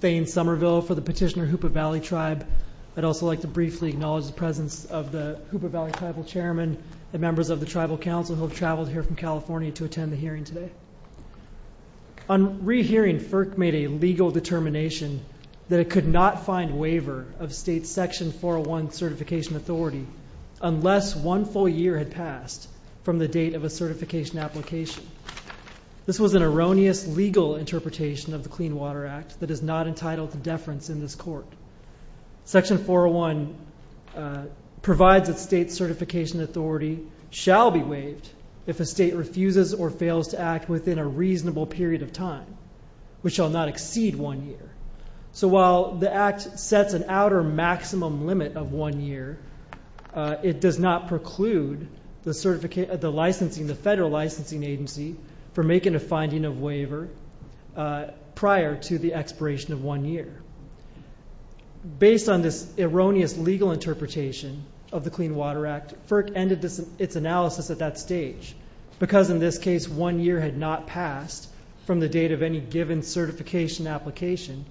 Thayne Somerville, Petitioner, Hoopa Valley Tribe I'd also like to briefly acknowledge the presence of the Hoopa Valley Tribal Chairman and members of the Tribal Council who have traveled here from California to attend the hearing today. On re-hearing, FERC made a legal determination that it could not find waiver of state's Section 401 certification authority unless one full year had passed from the date of a certification application. This was an erroneous legal interpretation of the Clean Water Act that is not entitled to deference in this court. Section 401 provides that state certification authority shall be waived if a state refuses or fails to act within a reasonable period of time, which shall not exceed one year. So while the Act sets an outer maximum limit of one year, it does not preclude the Federal Licensing Agency from making a finding of waiver prior to the expiration of one year. Based on this erroneous legal interpretation of the Clean Water Act, FERC ended its analysis at that stage because in this case one year had not passed from the date of any given certification application.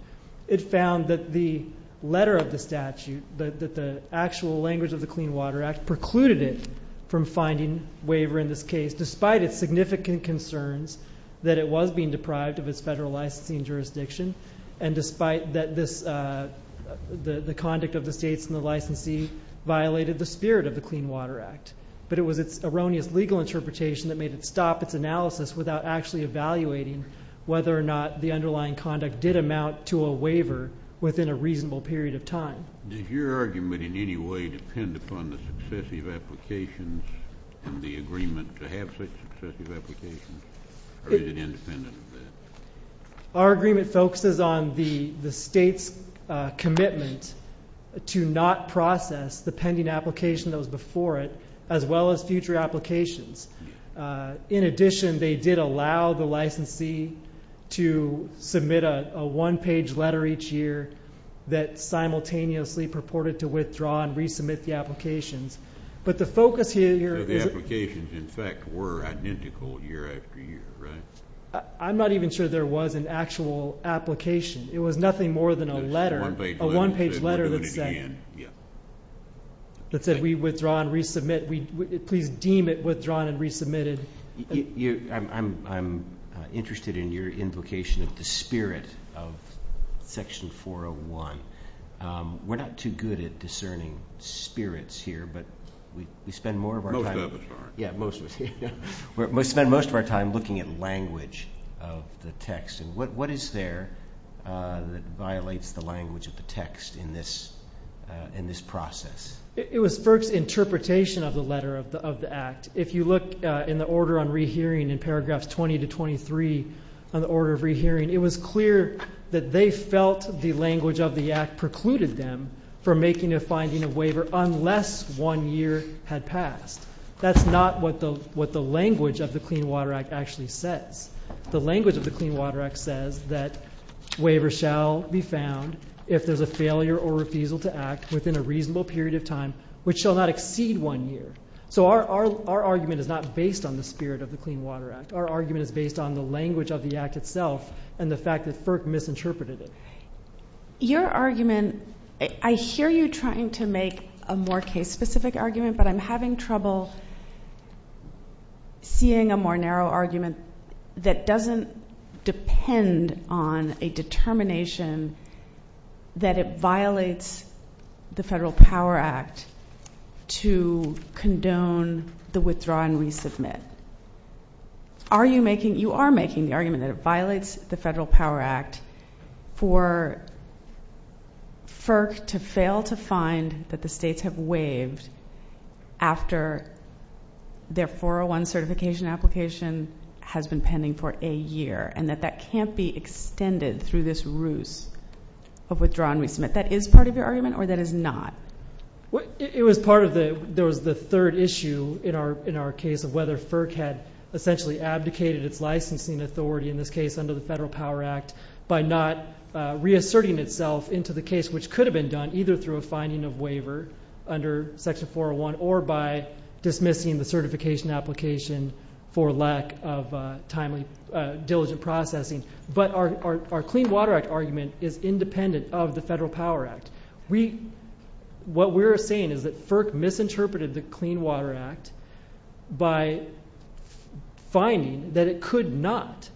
It found that the letter of the statute, that the actual language of the Clean Water Act, precluded it from finding waiver in this case despite its significant concerns that it was being deprived of its federal licensing jurisdiction and despite that the conduct of the states and the licensee violated the spirit of the Clean Water Act. But it was its erroneous legal interpretation that made it stop its analysis without actually evaluating whether or not the underlying conduct did amount to a waiver within a reasonable period of time. Does your argument in any way depend upon the successive applications and the agreement to have such successive applications, or is it independent of that? Our agreement focuses on the state's commitment to not process the pending application that was before it as well as future applications. In addition, they did allow the licensee to submit a one-page letter each year that simultaneously purported to withdraw and resubmit the applications. But the focus here is... So the applications, in fact, were identical year after year, right? I'm not even sure there was an actual application. It was nothing more than a letter, a one-page letter that said we withdraw and resubmit. Please deem it withdrawn and resubmitted. I'm interested in your invocation of the spirit of Section 401. We're not too good at discerning spirits here, but we spend more of our time... Most of us aren't. Yeah, most of us. We spend most of our time looking at language of the text. And what is there that violates the language of the text in this process? It was FERC's interpretation of the letter of the Act. If you look in the order on rehearing in paragraphs 20 to 23 on the order of rehearing, it was clear that they felt the language of the Act precluded them from making a finding of waiver unless one year had passed. That's not what the language of the Clean Water Act actually says. The language of the Clean Water Act says that waivers shall be found if there's a failure or refusal to act within a reasonable period of time which shall not exceed one year. So our argument is not based on the spirit of the Clean Water Act. Our argument is based on the language of the Act itself and the fact that FERC misinterpreted it. Your argument, I hear you trying to make a more case-specific argument, but I'm having trouble seeing a more narrow argument that doesn't depend on a determination that it violates the Federal Power Act to condone the withdraw and resubmit. You are making the argument that it violates the Federal Power Act for FERC to fail to find that the states have waived after their 401 certification application has been pending for a year and that that can't be extended through this ruse of withdraw and resubmit. That is part of your argument or that is not? It was part of the third issue in our case of whether FERC had essentially abdicated its licensing authority, in this case under the Federal Power Act, by not reasserting itself into the case which could have been done either through a finding of waiver under Section 401 or by dismissing the certification application for lack of timely, diligent processing. But our Clean Water Act argument is independent of the Federal Power Act. What we're saying is that FERC misinterpreted the Clean Water Act by finding that it could not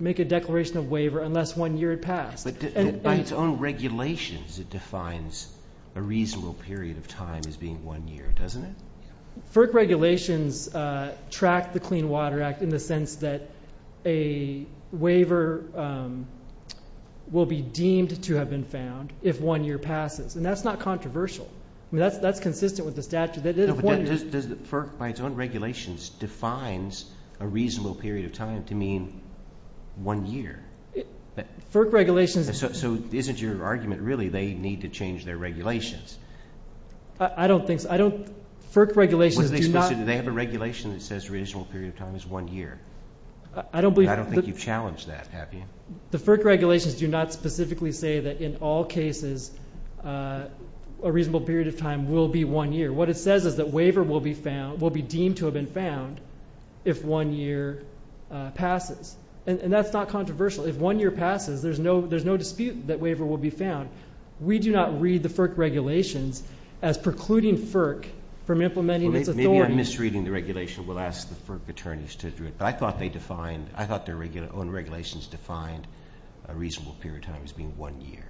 make a declaration of waiver unless one year had passed. But by its own regulations, it defines a reasonable period of time as being one year, doesn't it? FERC regulations track the Clean Water Act in the sense that a waiver will be deemed to have been found if one year passes, and that's not controversial. I mean, that's consistent with the statute. But doesn't FERC, by its own regulations, defines a reasonable period of time to mean one year? FERC regulations… So isn't your argument really they need to change their regulations? I don't think so. I don't…FERC regulations do not… Well, they have a regulation that says a reasonable period of time is one year. I don't believe… I don't think you've challenged that, have you? The FERC regulations do not specifically say that in all cases a reasonable period of time will be one year. What it says is that waiver will be deemed to have been found if one year passes, and that's not controversial. If one year passes, there's no dispute that waiver will be found. We do not read the FERC regulations as precluding FERC from implementing its authority. Maybe I'm misreading the regulation. We'll ask the FERC attorneys to do it. But I thought they defined…I thought their own regulations defined a reasonable period of time as being one year.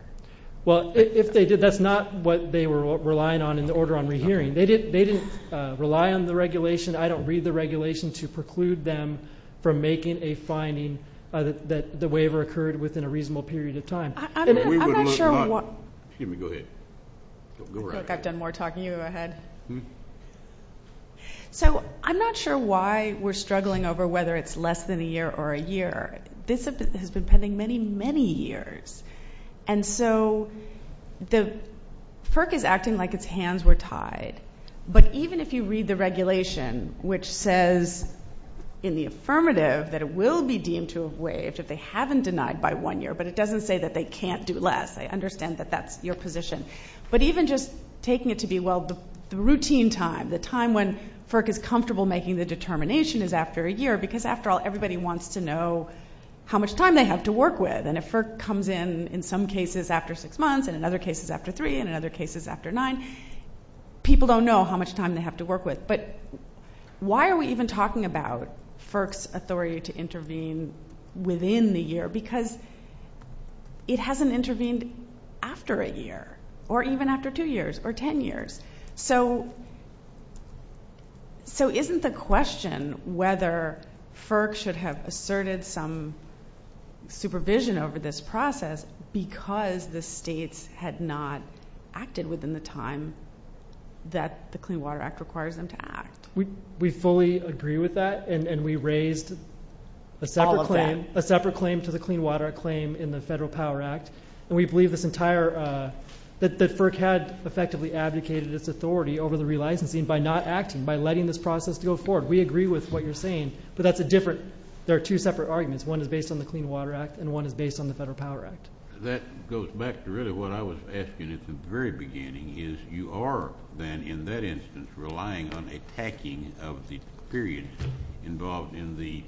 Well, if they did, that's not what they were relying on in the order on rehearing. They didn't rely on the regulation. I don't read the regulation to preclude them from making a finding that the waiver occurred within a reasonable period of time. I'm not sure why… Excuse me. Go ahead. I feel like I've done more talking to you. Go ahead. So I'm not sure why we're struggling over whether it's less than a year or a year. This has been pending many, many years. And so the FERC is acting like its hands were tied. But even if you read the regulation, which says in the affirmative that it will be deemed to have waived if they haven't denied by one year, but it doesn't say that they can't do less. I understand that that's your position. But even just taking it to be, well, the routine time, the time when FERC is comfortable making the determination is after a year because, after all, everybody wants to know how much time they have to work with. And if FERC comes in in some cases after six months and in other cases after three and in other cases after nine, people don't know how much time they have to work with. But why are we even talking about FERC's authority to intervene within the year? Because it hasn't intervened after a year or even after two years or ten years. So isn't the question whether FERC should have asserted some supervision over this process because the states had not acted within the time that the Clean Water Act requires them to act? We fully agree with that. And we raised a separate claim to the Clean Water Act claim in the Federal Power Act. And we believe this entire, that FERC had effectively advocated its authority over the relicensing by not acting, by letting this process go forward. We agree with what you're saying. But that's a different, there are two separate arguments. One is based on the Clean Water Act and one is based on the Federal Power Act. That goes back to really what I was asking at the very beginning, is you are then in that instance relying on attacking of the period involved in the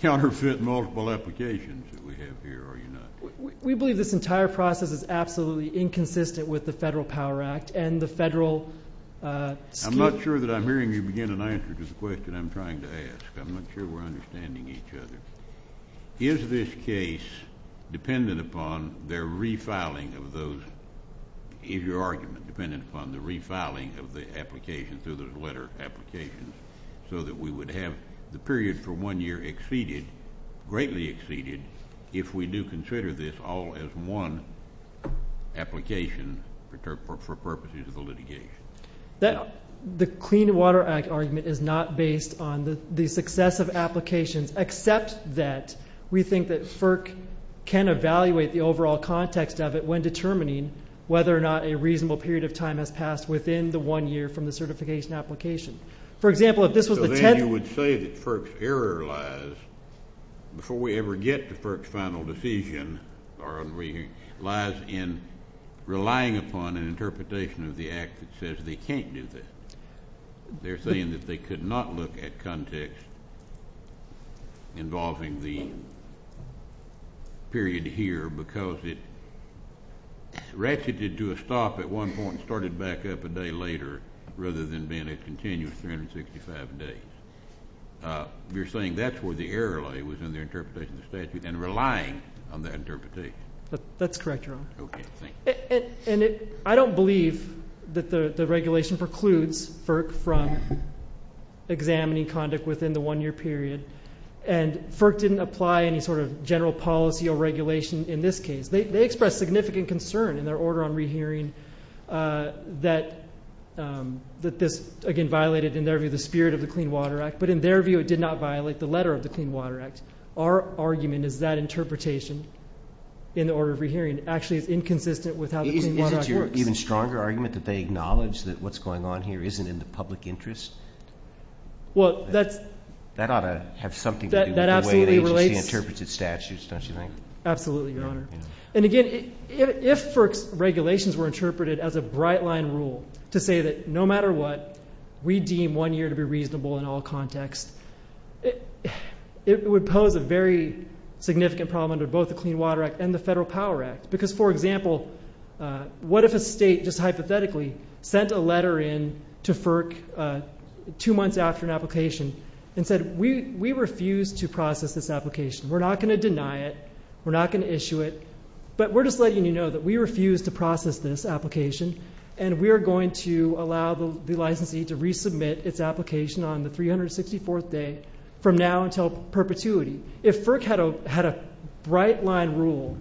counterfeit multiple applications that we have here, are you not? We believe this entire process is absolutely inconsistent with the Federal Power Act and the federal scheme. I'm not sure that I'm hearing you begin an answer to the question I'm trying to ask. I'm not sure we're understanding each other. Is this case dependent upon their refiling of those, is your argument dependent upon the refiling of the application through those letter applications so that we would have the period for one year exceeded, greatly exceeded, if we do consider this all as one application for purposes of the litigation? The Clean Water Act argument is not based on the success of applications, except that we think that FERC can evaluate the overall context of it when determining whether or not a reasonable period of time has passed within the one year from the certification application. For example, if this was the tenth. So then you would say that FERC's error lies, before we ever get to FERC's final decision, lies in relying upon an interpretation of the act that says they can't do that. They're saying that they could not look at context involving the period here because it ratcheted to a stop at one point and started back up a day later rather than being a continuous 365 days. You're saying that's where the error lay within their interpretation of the statute and relying on that interpretation. That's correct, Your Honor. Okay, thank you. And I don't believe that the regulation precludes FERC from examining conduct within the one year period. And FERC didn't apply any sort of general policy or regulation in this case. They expressed significant concern in their order on rehearing that this, again, violated in their view the spirit of the Clean Water Act, but in their view it did not violate the letter of the Clean Water Act. Our argument is that interpretation in the order of rehearing actually is inconsistent with how the Clean Water Act works. Is it your even stronger argument that they acknowledge that what's going on here isn't in the public interest? That ought to have something to do with the way an agency interprets its statutes, don't you think? Absolutely, Your Honor. And, again, if FERC's regulations were interpreted as a bright-line rule to say that no matter what, we deem one year to be reasonable in all contexts, it would pose a very significant problem under both the Clean Water Act and the Federal Power Act. Because, for example, what if a state just hypothetically sent a letter in to FERC two months after an application and said, We refuse to process this application. We're not going to deny it. We're not going to issue it. But we're just letting you know that we refuse to process this application, and we are going to allow the licensee to resubmit its application on the 364th day from now until perpetuity. If FERC had a bright-line rule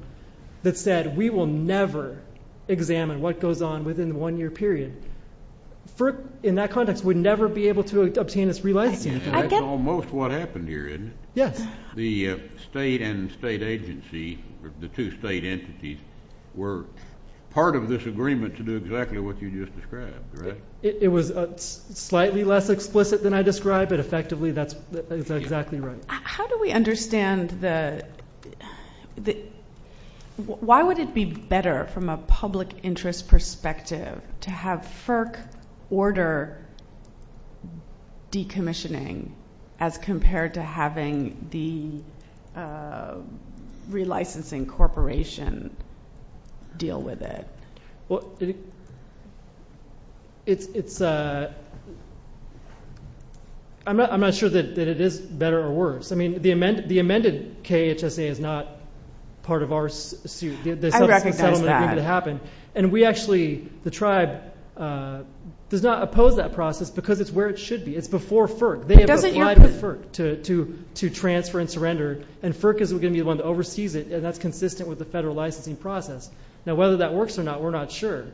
that said we will never examine what goes on within the one-year period, FERC, in that context, would never be able to obtain its real licensee. That's almost what happened here, isn't it? Yes. The state and state agency, the two state entities, were part of this agreement to do exactly what you just described, right? It was slightly less explicit than I described, but effectively that's exactly right. How do we understand the – why would it be better from a public interest perspective to have FERC order decommissioning as compared to having the relicensing corporation deal with it? Well, it's – I'm not sure that it is better or worse. I mean, the amended KHSA is not part of our suit. I recognize that. And we actually, the tribe, does not oppose that process because it's where it should be. It's before FERC. They have applied with FERC to transfer and surrender, and FERC is going to be the one that oversees it, and that's consistent with the federal licensing process. Now, whether that works or not, we're not sure,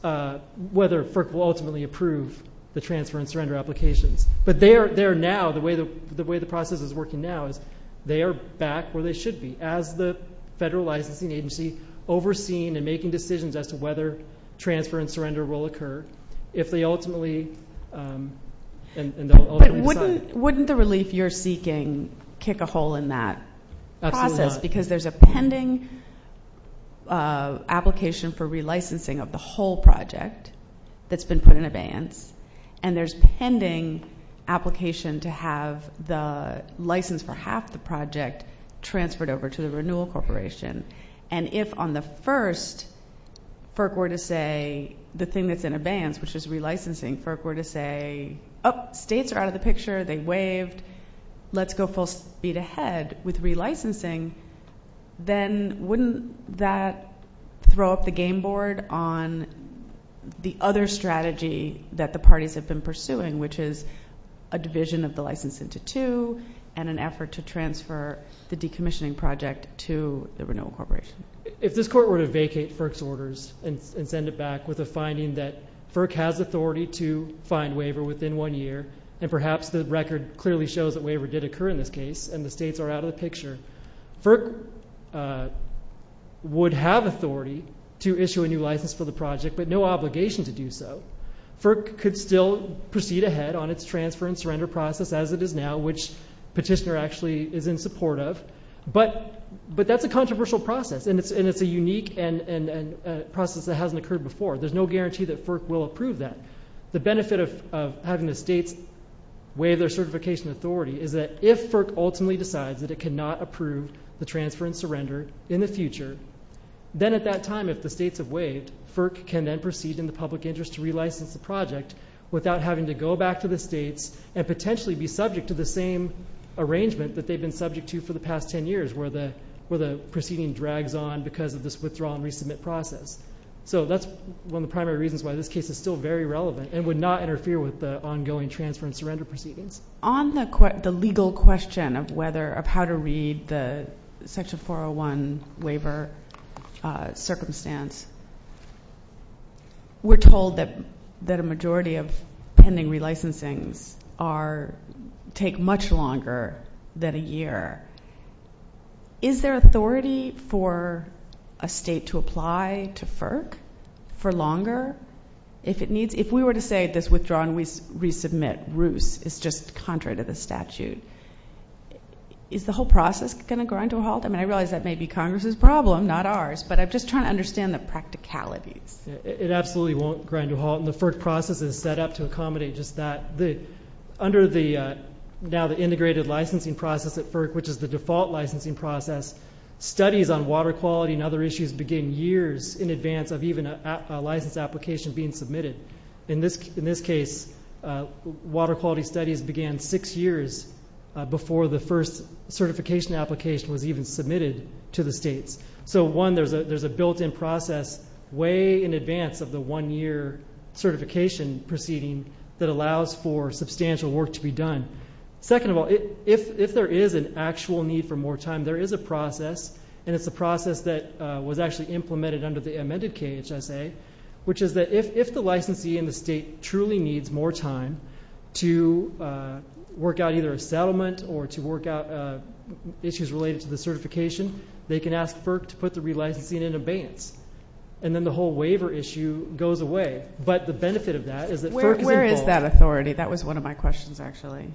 whether FERC will ultimately approve the transfer and surrender applications. But they are now, the way the process is working now, is they are back where they should be, as the federal licensing agency overseeing and making decisions as to whether transfer and surrender will occur, if they ultimately decide. But wouldn't the relief you're seeking kick a hole in that process? Because there's a pending application for relicensing of the whole project that's been put in abeyance, and there's pending application to have the license for half the project transferred over to the renewal corporation. And if on the first, FERC were to say the thing that's in abeyance, which is relicensing, FERC were to say, oh, states are out of the picture, they waived, let's go full speed ahead. With relicensing, then wouldn't that throw up the game board on the other strategy that the parties have been pursuing, which is a division of the license into two and an effort to transfer the decommissioning project to the renewal corporation? If this court were to vacate FERC's orders and send it back with a finding that FERC has authority to find waiver within one year, and perhaps the record clearly shows that waiver did occur in this case and the states are out of the picture, FERC would have authority to issue a new license for the project but no obligation to do so. FERC could still proceed ahead on its transfer and surrender process as it is now, which Petitioner actually is in support of. But that's a controversial process, and it's a unique process that hasn't occurred before. There's no guarantee that FERC will approve that. The benefit of having the states waive their certification authority is that if FERC ultimately decides that it cannot approve the transfer and surrender in the future, then at that time if the states have waived, FERC can then proceed in the public interest to relicense the project without having to go back to the states and potentially be subject to the same arrangement that they've been subject to for the past ten years where the proceeding drags on because of this withdrawal and resubmit process. So that's one of the primary reasons why this case is still very relevant and would not interfere with the ongoing transfer and surrender proceedings. On the legal question of how to read the Section 401 waiver circumstance, we're told that a majority of pending relicensings take much longer than a year. Is there authority for a state to apply to FERC for longer? If we were to say this withdrawal and resubmit ruse is just contrary to the statute, is the whole process going to grind to a halt? I mean, I realize that may be Congress's problem, not ours, but I'm just trying to understand the practicalities. It absolutely won't grind to a halt, and the FERC process is set up to accommodate just that. Under now the integrated licensing process at FERC, which is the default licensing process, studies on water quality and other issues begin years in advance of even a license application being submitted. In this case, water quality studies began six years before the first certification application was even submitted to the states. So, one, there's a built-in process way in advance of the one-year certification proceeding that allows for substantial work to be done. Second of all, if there is an actual need for more time, there is a process, and it's a process that was actually implemented under the amended KHSA, which is that if the licensee in the state truly needs more time to work out either a settlement or to work out issues related to the certification, they can ask FERC to put the relicensing in abeyance, and then the whole waiver issue goes away. But the benefit of that is that FERC is involved. Where is that authority? That was one of my questions, actually.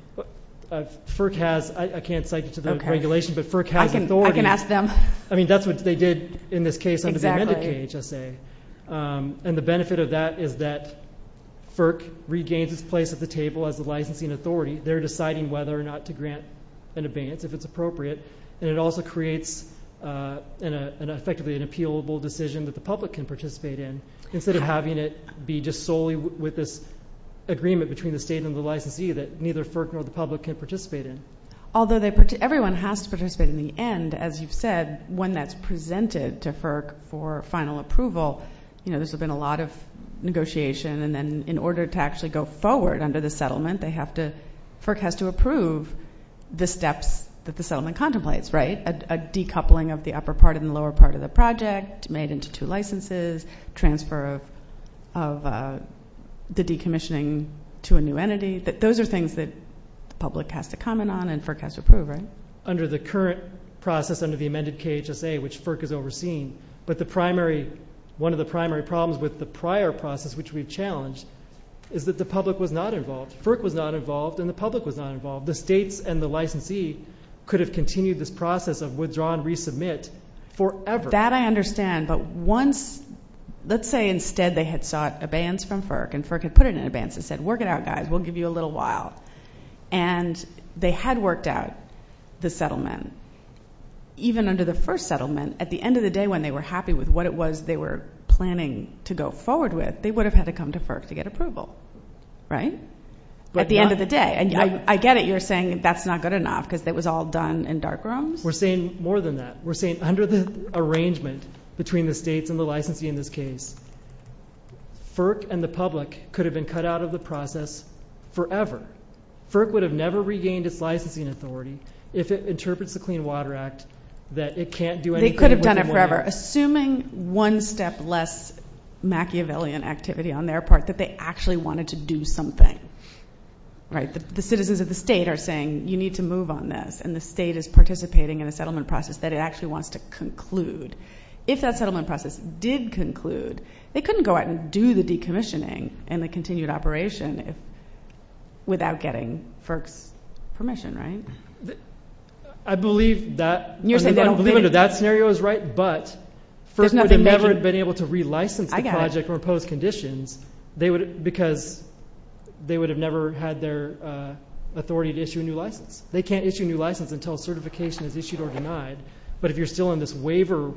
FERC has. I can't cite you to the regulation, but FERC has authority. I can ask them. I mean, that's what they did in this case under the amended KHSA. And the benefit of that is that FERC regains its place at the table as the licensing authority. They're deciding whether or not to grant an abeyance if it's appropriate, and it also creates effectively an appealable decision that the public can participate in instead of having it be just solely with this agreement between the state and the licensee that neither FERC nor the public can participate in. Although everyone has to participate in the end, as you've said, when that's presented to FERC for final approval, you know, there's been a lot of negotiation, and then in order to actually go forward under the settlement, FERC has to approve the steps that the settlement contemplates, right? A decoupling of the upper part and the lower part of the project made into two licenses, transfer of the decommissioning to a new entity. Those are things that the public has to comment on and FERC has to approve, right? Under the current process under the amended KHSA, which FERC is overseeing, but one of the primary problems with the prior process, which we've challenged, is that the public was not involved. FERC was not involved and the public was not involved. The states and the licensee could have continued this process of withdraw and resubmit forever. That I understand, but once, let's say instead they had sought abeyance from FERC and FERC had put it in abeyance and said, work it out, guys. We'll give you a little while. And they had worked out the settlement. Even under the first settlement, at the end of the day, when they were happy with what it was they were planning to go forward with, they would have had to come to FERC to get approval, right? At the end of the day, and I get it. You're saying that's not good enough because it was all done in dark rooms? We're saying more than that. We're saying under the arrangement between the states and the licensee in this case, FERC and the public could have been cut out of the process forever. FERC would have never regained its licensing authority if it interprets the Clean Water Act that it can't do anything anymore. They could have done it forever. Assuming one step less Machiavellian activity on their part, that they actually wanted to do something, right? The citizens of the state are saying you need to move on this and the state is participating in a settlement process that it actually wants to conclude. If that settlement process did conclude, they couldn't go out and do the decommissioning and the continued operation without getting FERC's permission, right? I believe that scenario is right, but FERC would have never been able to relicense the project or impose conditions because they would have never had their authority to issue a new license. But if you're still in this waiver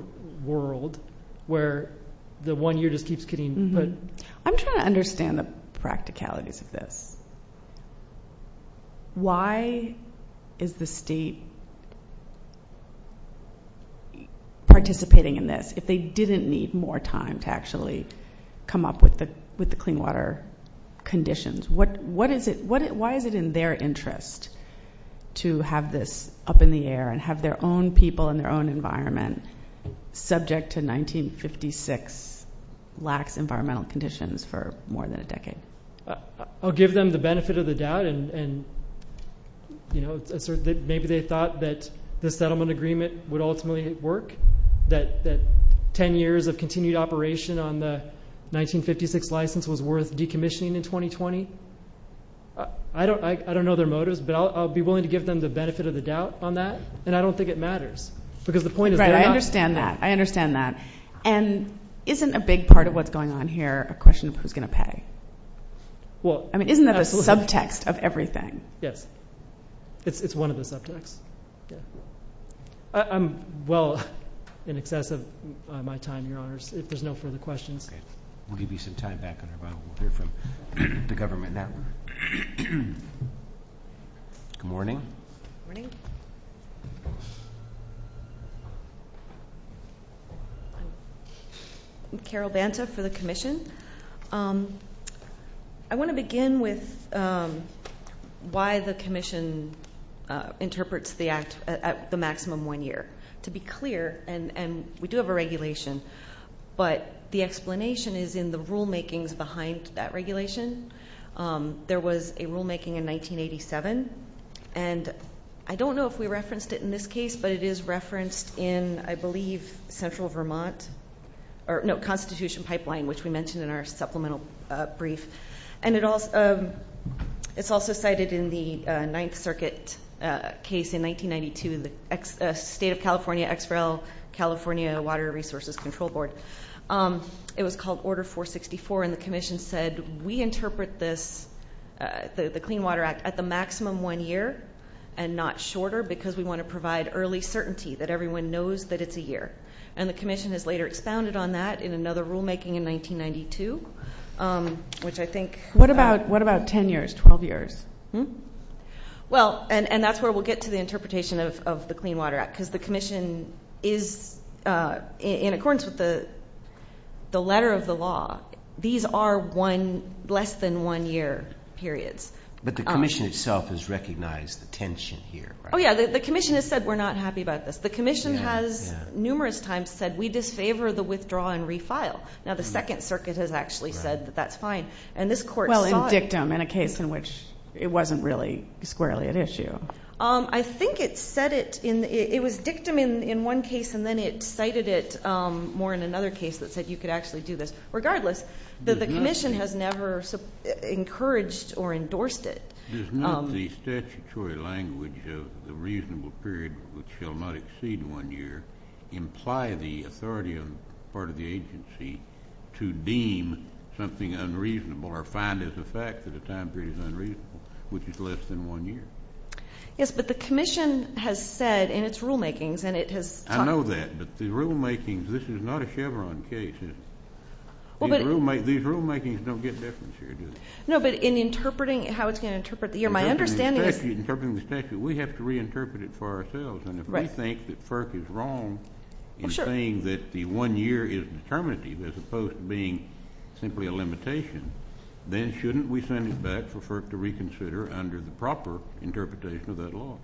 world where the one year just keeps getting... I'm trying to understand the practicalities of this. Why is the state participating in this if they didn't need more time to actually come up with the clean water conditions? Why is it in their interest to have this up in the air and have their own people in their own environment subject to 1956 lax environmental conditions for more than a decade? I'll give them the benefit of the doubt. Maybe they thought that the settlement agreement would ultimately work, that 10 years of continued operation on the 1956 license was worth decommissioning in 2020. I don't know their motives, but I'll be willing to give them the benefit of the doubt on that, and I don't think it matters because the point is... Right. I understand that. I understand that. And isn't a big part of what's going on here a question of who's going to pay? I mean, isn't that the subtext of everything? Yes. It's one of the subtexts. I'm well in excess of my time, Your Honors, if there's no further questions. Okay. We'll give you some time back on your bill. We'll hear from the government now. Good morning. Good morning. I'm Carol Banta for the commission. I want to begin with why the commission interprets the act at the maximum one year. To be clear, and we do have a regulation, but the explanation is in the rulemakings behind that regulation. There was a rulemaking in 1987, and I don't know if we referenced it in this case, but it is referenced in, I believe, Central Vermont. No, Constitution Pipeline, which we mentioned in our supplemental brief. And it's also cited in the Ninth Circuit case in 1992, the State of California, XREL, California Water Resources Control Board. It was called Order 464, and the commission said, we interpret this, the Clean Water Act, at the maximum one year and not shorter, because we want to provide early certainty that everyone knows that it's a year. And the commission has later expounded on that in another rulemaking in 1992, which I think. What about 10 years, 12 years? Well, and that's where we'll get to the interpretation of the Clean Water Act, because the commission is, in accordance with the letter of the law, these are less than one year periods. But the commission itself has recognized the tension here. Oh, yeah. The commission has said, we're not happy about this. The commission has numerous times said, we disfavor the withdraw and refile. Now, the Second Circuit has actually said that that's fine. And this court saw it. Well, in dictum, in a case in which it wasn't really squarely at issue. I think it said it in, it was dictum in one case, and then it cited it more in another case that said you could actually do this. Regardless, the commission has never encouraged or endorsed it. Does not the statutory language of the reasonable period, which shall not exceed one year, imply the authority on the part of the agency to deem something unreasonable or find as a fact that a time period is unreasonable, which is less than one year? Yes, but the commission has said in its rulemakings, and it has talked about it. I know that, but the rulemakings, this is not a Chevron case. These rulemakings don't get different here, do they? No, but in interpreting how it's going to interpret the year, my understanding is. In interpreting the statute, we have to reinterpret it for ourselves. And if we think that FERC is wrong in saying that the one year is determinative as opposed to being simply a limitation, then shouldn't we send it back for FERC to reconsider under the proper interpretation of that law?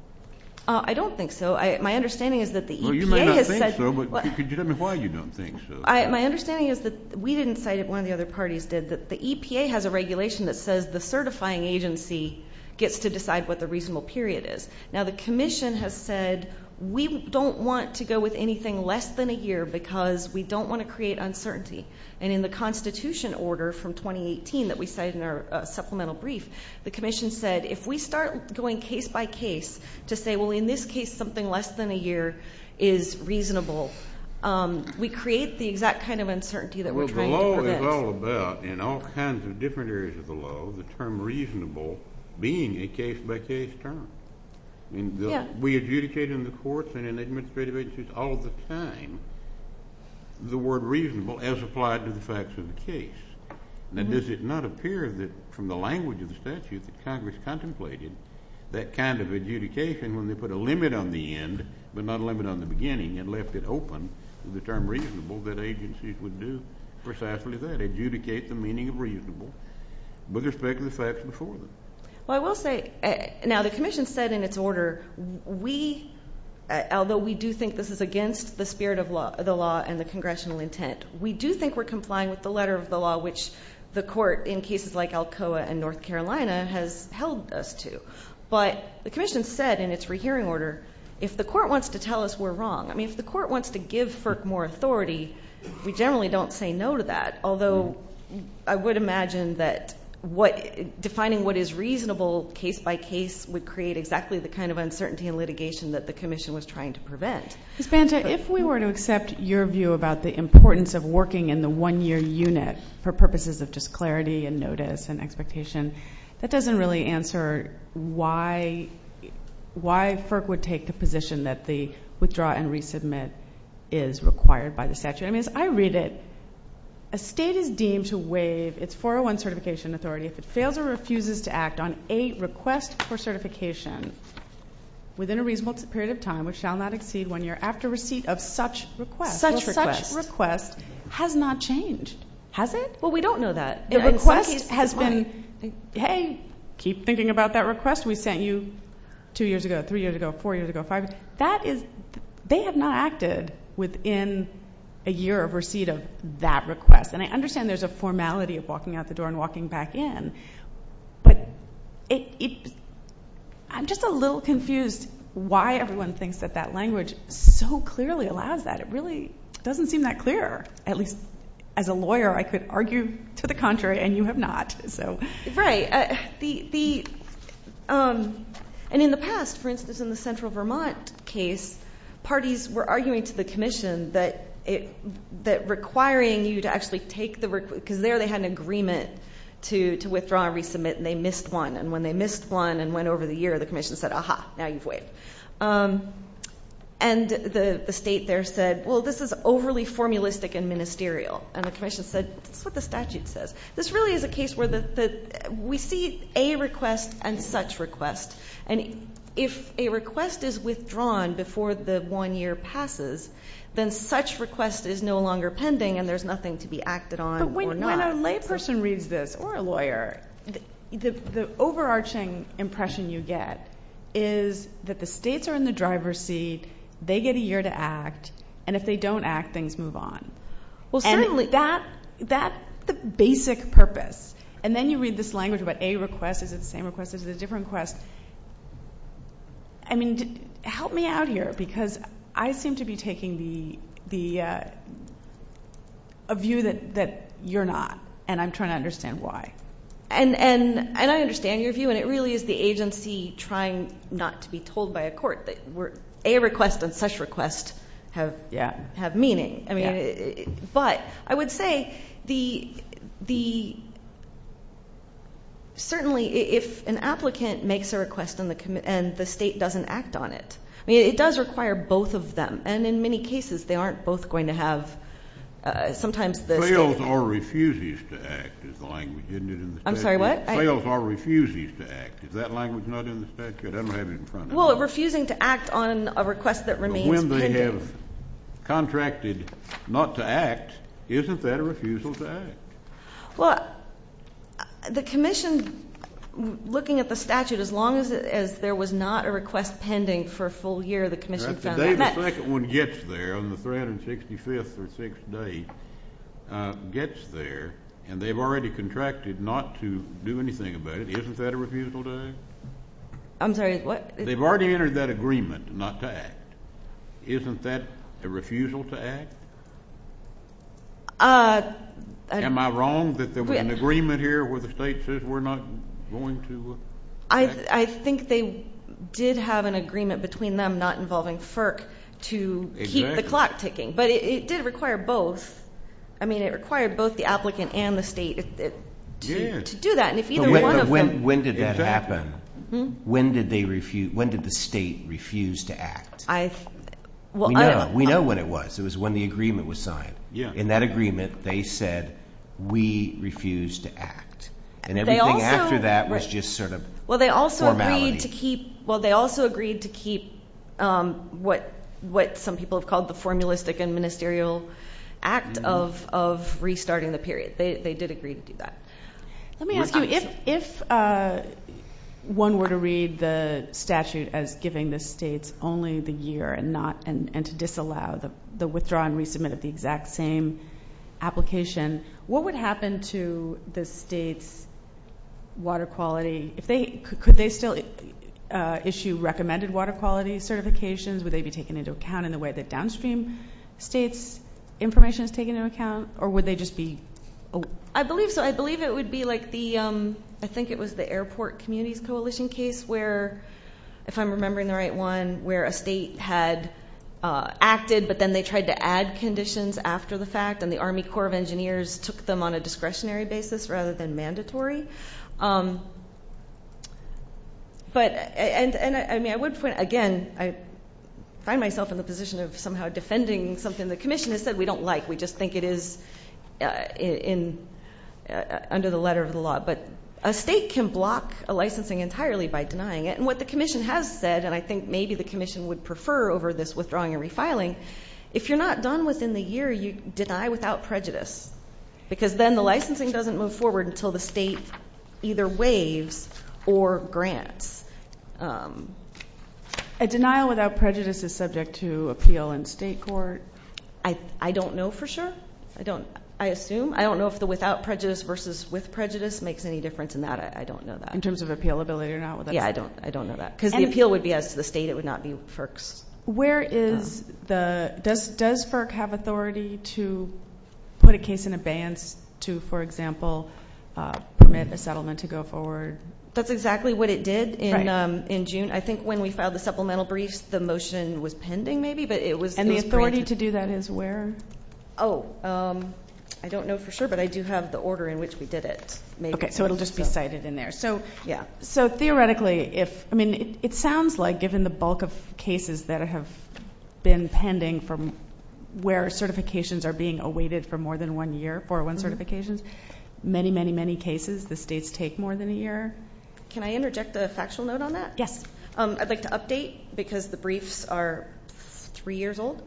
I don't think so. My understanding is that the EPA has said. Well, you may not think so, but could you tell me why you don't think so? My understanding is that we didn't cite it. There's a regulation that says the certifying agency gets to decide what the reasonable period is. Now, the commission has said we don't want to go with anything less than a year because we don't want to create uncertainty. And in the Constitution order from 2018 that we cite in our supplemental brief, the commission said if we start going case by case to say, well, in this case something less than a year is reasonable, we create the exact kind of uncertainty that we're trying to prevent. What about in all kinds of different areas of the law the term reasonable being a case-by-case term? We adjudicate in the courts and in administrative agencies all the time the word reasonable as applied to the facts of the case. Now, does it not appear from the language of the statute that Congress contemplated that kind of adjudication when they put a limit on the end but not a limit on the beginning and left it open to the term reasonable that agencies would do precisely that, adjudicate the meaning of reasonable with respect to the facts before them? Well, I will say now the commission said in its order we, although we do think this is against the spirit of the law and the congressional intent, we do think we're complying with the letter of the law, which the court in cases like Alcoa and North Carolina has held us to. But the commission said in its rehearing order if the court wants to tell us we're wrong, I mean if the court wants to give FERC more authority, we generally don't say no to that, although I would imagine that defining what is reasonable case-by-case would create exactly the kind of uncertainty in litigation that the commission was trying to prevent. Ms. Banta, if we were to accept your view about the importance of working in the one-year unit for purposes of just clarity and notice and expectation, that doesn't really answer why FERC would take the position that the withdraw and resubmit is required by the statute. I mean as I read it, a state is deemed to waive its 401 certification authority if it fails or refuses to act on a request for certification within a reasonable period of time which shall not exceed one year after receipt of such request. Such request. Such request has not changed. Has it? Well, we don't know that. The request has been, hey, keep thinking about that request we sent you two years ago, three years ago, four years ago, five years ago. They have not acted within a year of receipt of that request, and I understand there's a formality of walking out the door and walking back in, but I'm just a little confused why everyone thinks that that language so clearly allows that. It really doesn't seem that clear. At least as a lawyer, I could argue to the contrary, and you have not. Right. And in the past, for instance, in the central Vermont case, parties were arguing to the commission that requiring you to actually take the request, because there they had an agreement to withdraw and resubmit and they missed one, and when they missed one and went over the year, the commission said, aha, now you've waived. And the state there said, well, this is overly formulistic and ministerial, and the commission said, that's what the statute says. This really is a case where we see a request and such request, and if a request is withdrawn before the one year passes, then such request is no longer pending and there's nothing to be acted on or not. When a lay person reads this or a lawyer, the overarching impression you get is that the states are in the driver's seat, they get a year to act, and if they don't act, things move on. Well, certainly. And that's the basic purpose. And then you read this language about a request, is it the same request, is it a different request. I mean, help me out here, because I seem to be taking the view that you're not, and I'm trying to understand why. And I understand your view, and it really is the agency trying not to be told by a court that a request and such request have meaning. But I would say certainly if an applicant makes a request and the state doesn't act on it, it does require both of them, and in many cases they aren't both going to have, sometimes the state. Fails or refuses to act is the language, isn't it, in the statute? I'm sorry, what? Fails or refuses to act. Is that language not in the statute? I don't have it in front of me. Well, refusing to act on a request that remains pending. If they have contracted not to act, isn't that a refusal to act? Well, the commission, looking at the statute, as long as there was not a request pending for a full year, the commission found that. The day the second one gets there, on the 365th or sixth day, gets there, and they've already contracted not to do anything about it, isn't that a refusal to act? I'm sorry, what? They've already entered that agreement not to act. Isn't that a refusal to act? Am I wrong that there was an agreement here where the state says we're not going to act? I think they did have an agreement between them not involving FERC to keep the clock ticking. But it did require both. I mean, it required both the applicant and the state to do that. But when did that happen? When did the state refuse to act? We know when it was. It was when the agreement was signed. In that agreement, they said, we refuse to act. And everything after that was just sort of formality. Well, they also agreed to keep what some people have called the formulistic and ministerial act of restarting the period. They did agree to do that. Let me ask you, if one were to read the statute as giving the states only the year and to disallow the withdrawal and resubmit of the exact same application, what would happen to the state's water quality? Could they still issue recommended water quality certifications? Would they be taken into account in the way that downstream states' information is taken into account? Or would they just be? I believe so. I believe it would be like the, I think it was the airport communities coalition case where, if I'm remembering the right one, where a state had acted, but then they tried to add conditions after the fact, and the Army Corps of Engineers took them on a discretionary basis rather than mandatory. But, and I mean, I would point, again, I find myself in the position of somehow defending something the commission has said we don't like. We just think it is under the letter of the law. But a state can block a licensing entirely by denying it. And what the commission has said, and I think maybe the commission would prefer over this withdrawing and refiling, if you're not done within the year, you deny without prejudice. Because then the licensing doesn't move forward until the state either waives or grants. A denial without prejudice is subject to appeal in state court? I don't know for sure. I don't, I assume. I don't know if the without prejudice versus with prejudice makes any difference in that. I don't know that. In terms of appealability or not? Yeah, I don't know that. Because the appeal would be as to the state. It would not be FERC's. Where is the, does FERC have authority to put a case in abeyance to, for example, permit a settlement to go forward? That's exactly what it did in June. I think when we filed the supplemental briefs, the motion was pending maybe, but it was. And the authority to do that is where? Oh, I don't know for sure, but I do have the order in which we did it. Okay, so it will just be cited in there. So, yeah. So, theoretically, if, I mean, it sounds like given the bulk of cases that have been pending from where certifications are being awaited for more than one year, 401 certifications, many, many, many cases, the states take more than a year. Can I interject a factual note on that? Yes. I'd like to update because the briefs are three years old.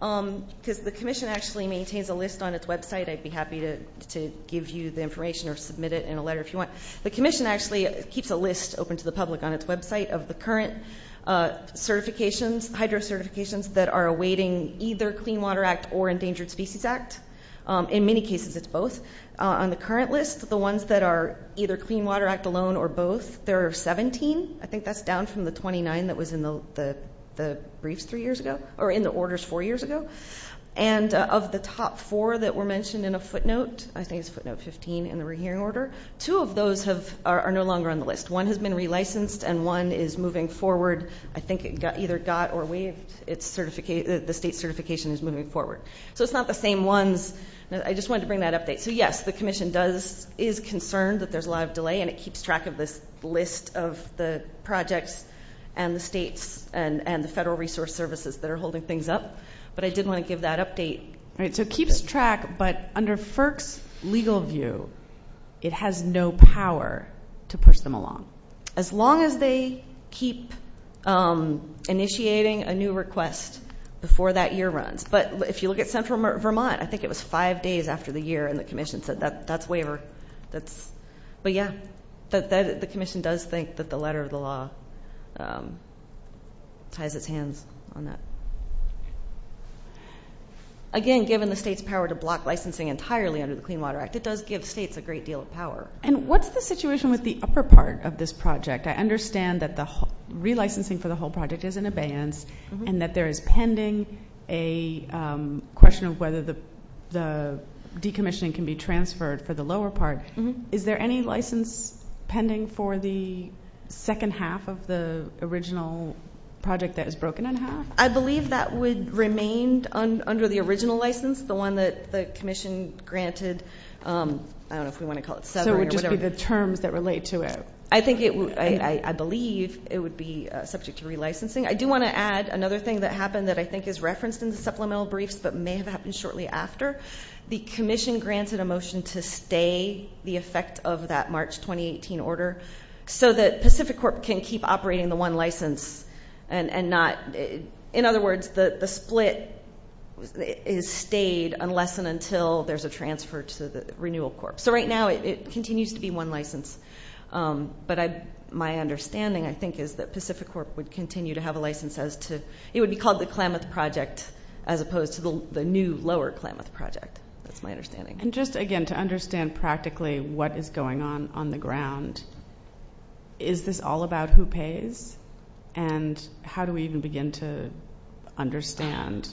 Because the commission actually maintains a list on its website. I'd be happy to give you the information or submit it in a letter if you want. The commission actually keeps a list open to the public on its website of the current certifications, hydro certifications that are awaiting either Clean Water Act or Endangered Species Act. In many cases, it's both. On the current list, the ones that are either Clean Water Act alone or both, there are 17. I think that's down from the 29 that was in the briefs three years ago or in the orders four years ago. And of the top four that were mentioned in a footnote, I think it's footnote 15 in the rehearing order, two of those are no longer on the list. One has been relicensed and one is moving forward. I think it either got or waived its certification, the state certification is moving forward. So it's not the same ones. I just wanted to bring that update. So, yes, the commission does, is concerned that there's a lot of delay and it keeps track of this list of the projects and the states and the federal resource services that are holding things up. But I did want to give that update. So it keeps track, but under FERC's legal view, it has no power to push them along, as long as they keep initiating a new request before that year runs. But if you look at central Vermont, I think it was five days after the year, and the commission said that's waiver. But, yeah, the commission does think that the letter of the law ties its hands on that. Again, given the state's power to block licensing entirely under the Clean Water Act, it does give states a great deal of power. And what's the situation with the upper part of this project? I understand that the relicensing for the whole project is in abeyance and that there is pending a question of whether the decommissioning can be transferred for the lower part. Is there any license pending for the second half of the original project that is broken in half? I believe that would remain under the original license, the one that the commission granted. I don't know if we want to call it seven or whatever. So it would just be the terms that relate to it. I believe it would be subject to relicensing. I do want to add another thing that happened that I think is referenced in the supplemental briefs but may have happened shortly after. The commission granted a motion to stay the effect of that March 2018 order so that Pacific Corp can keep operating the one license and not, in other words, the split is stayed unless and until there's a transfer to the renewal corp. So right now it continues to be one license. But my understanding, I think, is that Pacific Corp would continue to have a license as to it would be called the Klamath Project as opposed to the new lower Klamath Project. That's my understanding. And just, again, to understand practically what is going on on the ground, is this all about who pays and how do we even begin to understand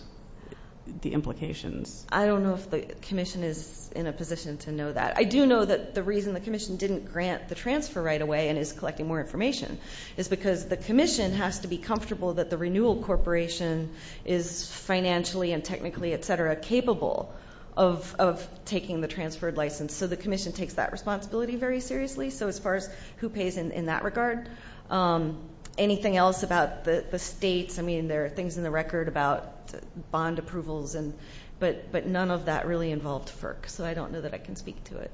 the implications? I don't know if the commission is in a position to know that. I do know that the reason the commission didn't grant the transfer right away and is collecting more information is because the commission has to be comfortable that the renewal corporation is financially and technically, et cetera, capable of taking the transferred license. So the commission takes that responsibility very seriously. So as far as who pays in that regard. Anything else about the states? I mean, there are things in the record about bond approvals, but none of that really involved FERC. So I don't know that I can speak to it.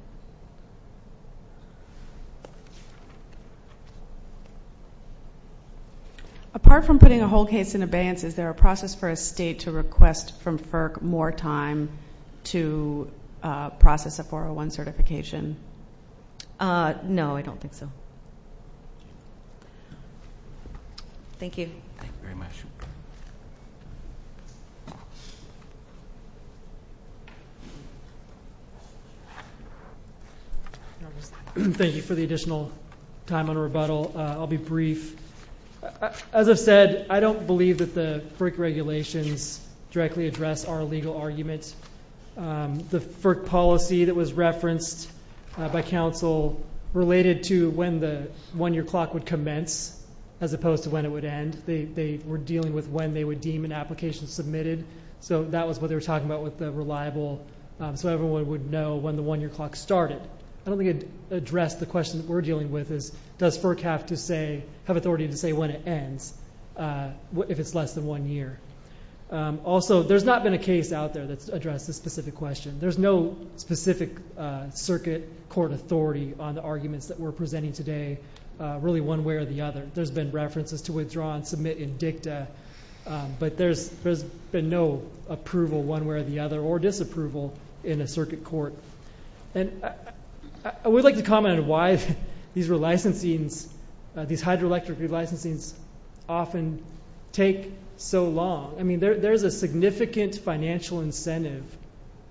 Apart from putting a whole case in abeyance, is there a process for a state to request from FERC more time to process a 401 certification? No, I don't think so. Thank you. Thank you very much. Thank you for the additional time and rebuttal. I'll be brief. As I've said, I don't believe that the FERC regulations directly address our legal arguments. The FERC policy that was referenced by council related to when the one-year clock would commence, as opposed to when it would end. They were dealing with when they would deem an application submitted. So that was what they were talking about with the reliable, so everyone would know when the one-year clock started. I don't think it addressed the question that we're dealing with, is does FERC have authority to say when it ends if it's less than one year? Also, there's not been a case out there that's addressed this specific question. There's no specific circuit court authority on the arguments that we're presenting today, really one way or the other. There's been references to withdraw and submit in dicta, but there's been no approval one way or the other or disapproval in a circuit court. I would like to comment on why these hydroelectric relicensings often take so long. There's a significant financial incentive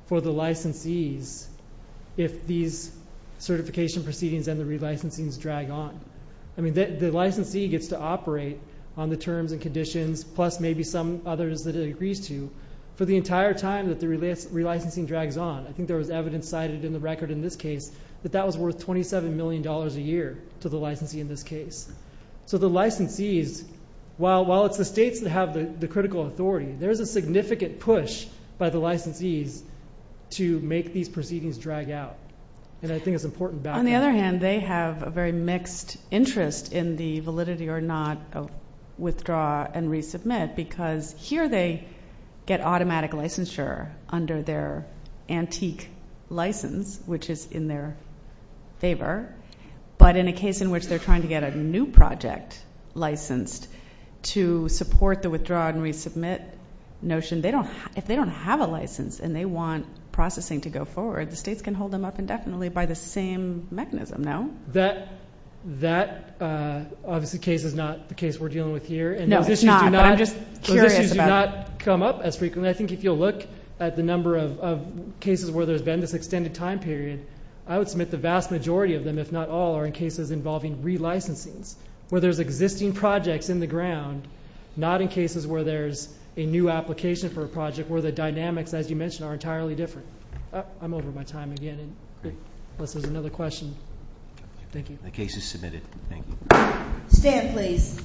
for the licensees if these certification proceedings and the relicensings drag on. The licensee gets to operate on the terms and conditions, plus maybe some others that it agrees to, for the entire time that the relicensing drags on. I think there was evidence cited in the record in this case that that was worth $27 million a year to the licensee in this case. So the licensees, while it's the states that have the critical authority, there is a significant push by the licensees to make these proceedings drag out, and I think it's important background. On the other hand, they have a very mixed interest in the validity or not of withdraw and resubmit because here they get automatic licensure under their antique license, which is in their favor, but in a case in which they're trying to get a new project licensed to support the withdraw and resubmit notion, if they don't have a license and they want processing to go forward, the states can hold them up indefinitely by the same mechanism, no? That obviously is not the case we're dealing with here. No, it's not, but I'm just curious about it. Those issues do not come up as frequently. I think if you'll look at the number of cases where there's been this extended time period, I would submit the vast majority of them, if not all, are in cases involving relicensings, where there's existing projects in the ground, not in cases where there's a new application for a project where the dynamics, as you mentioned, are entirely different. I'm over my time again, unless there's another question. Thank you. The case is submitted. Thank you. Stand, please.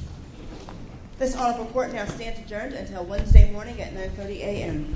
This audit report now stands adjourned until Wednesday morning at 9.30 a.m. Thank you.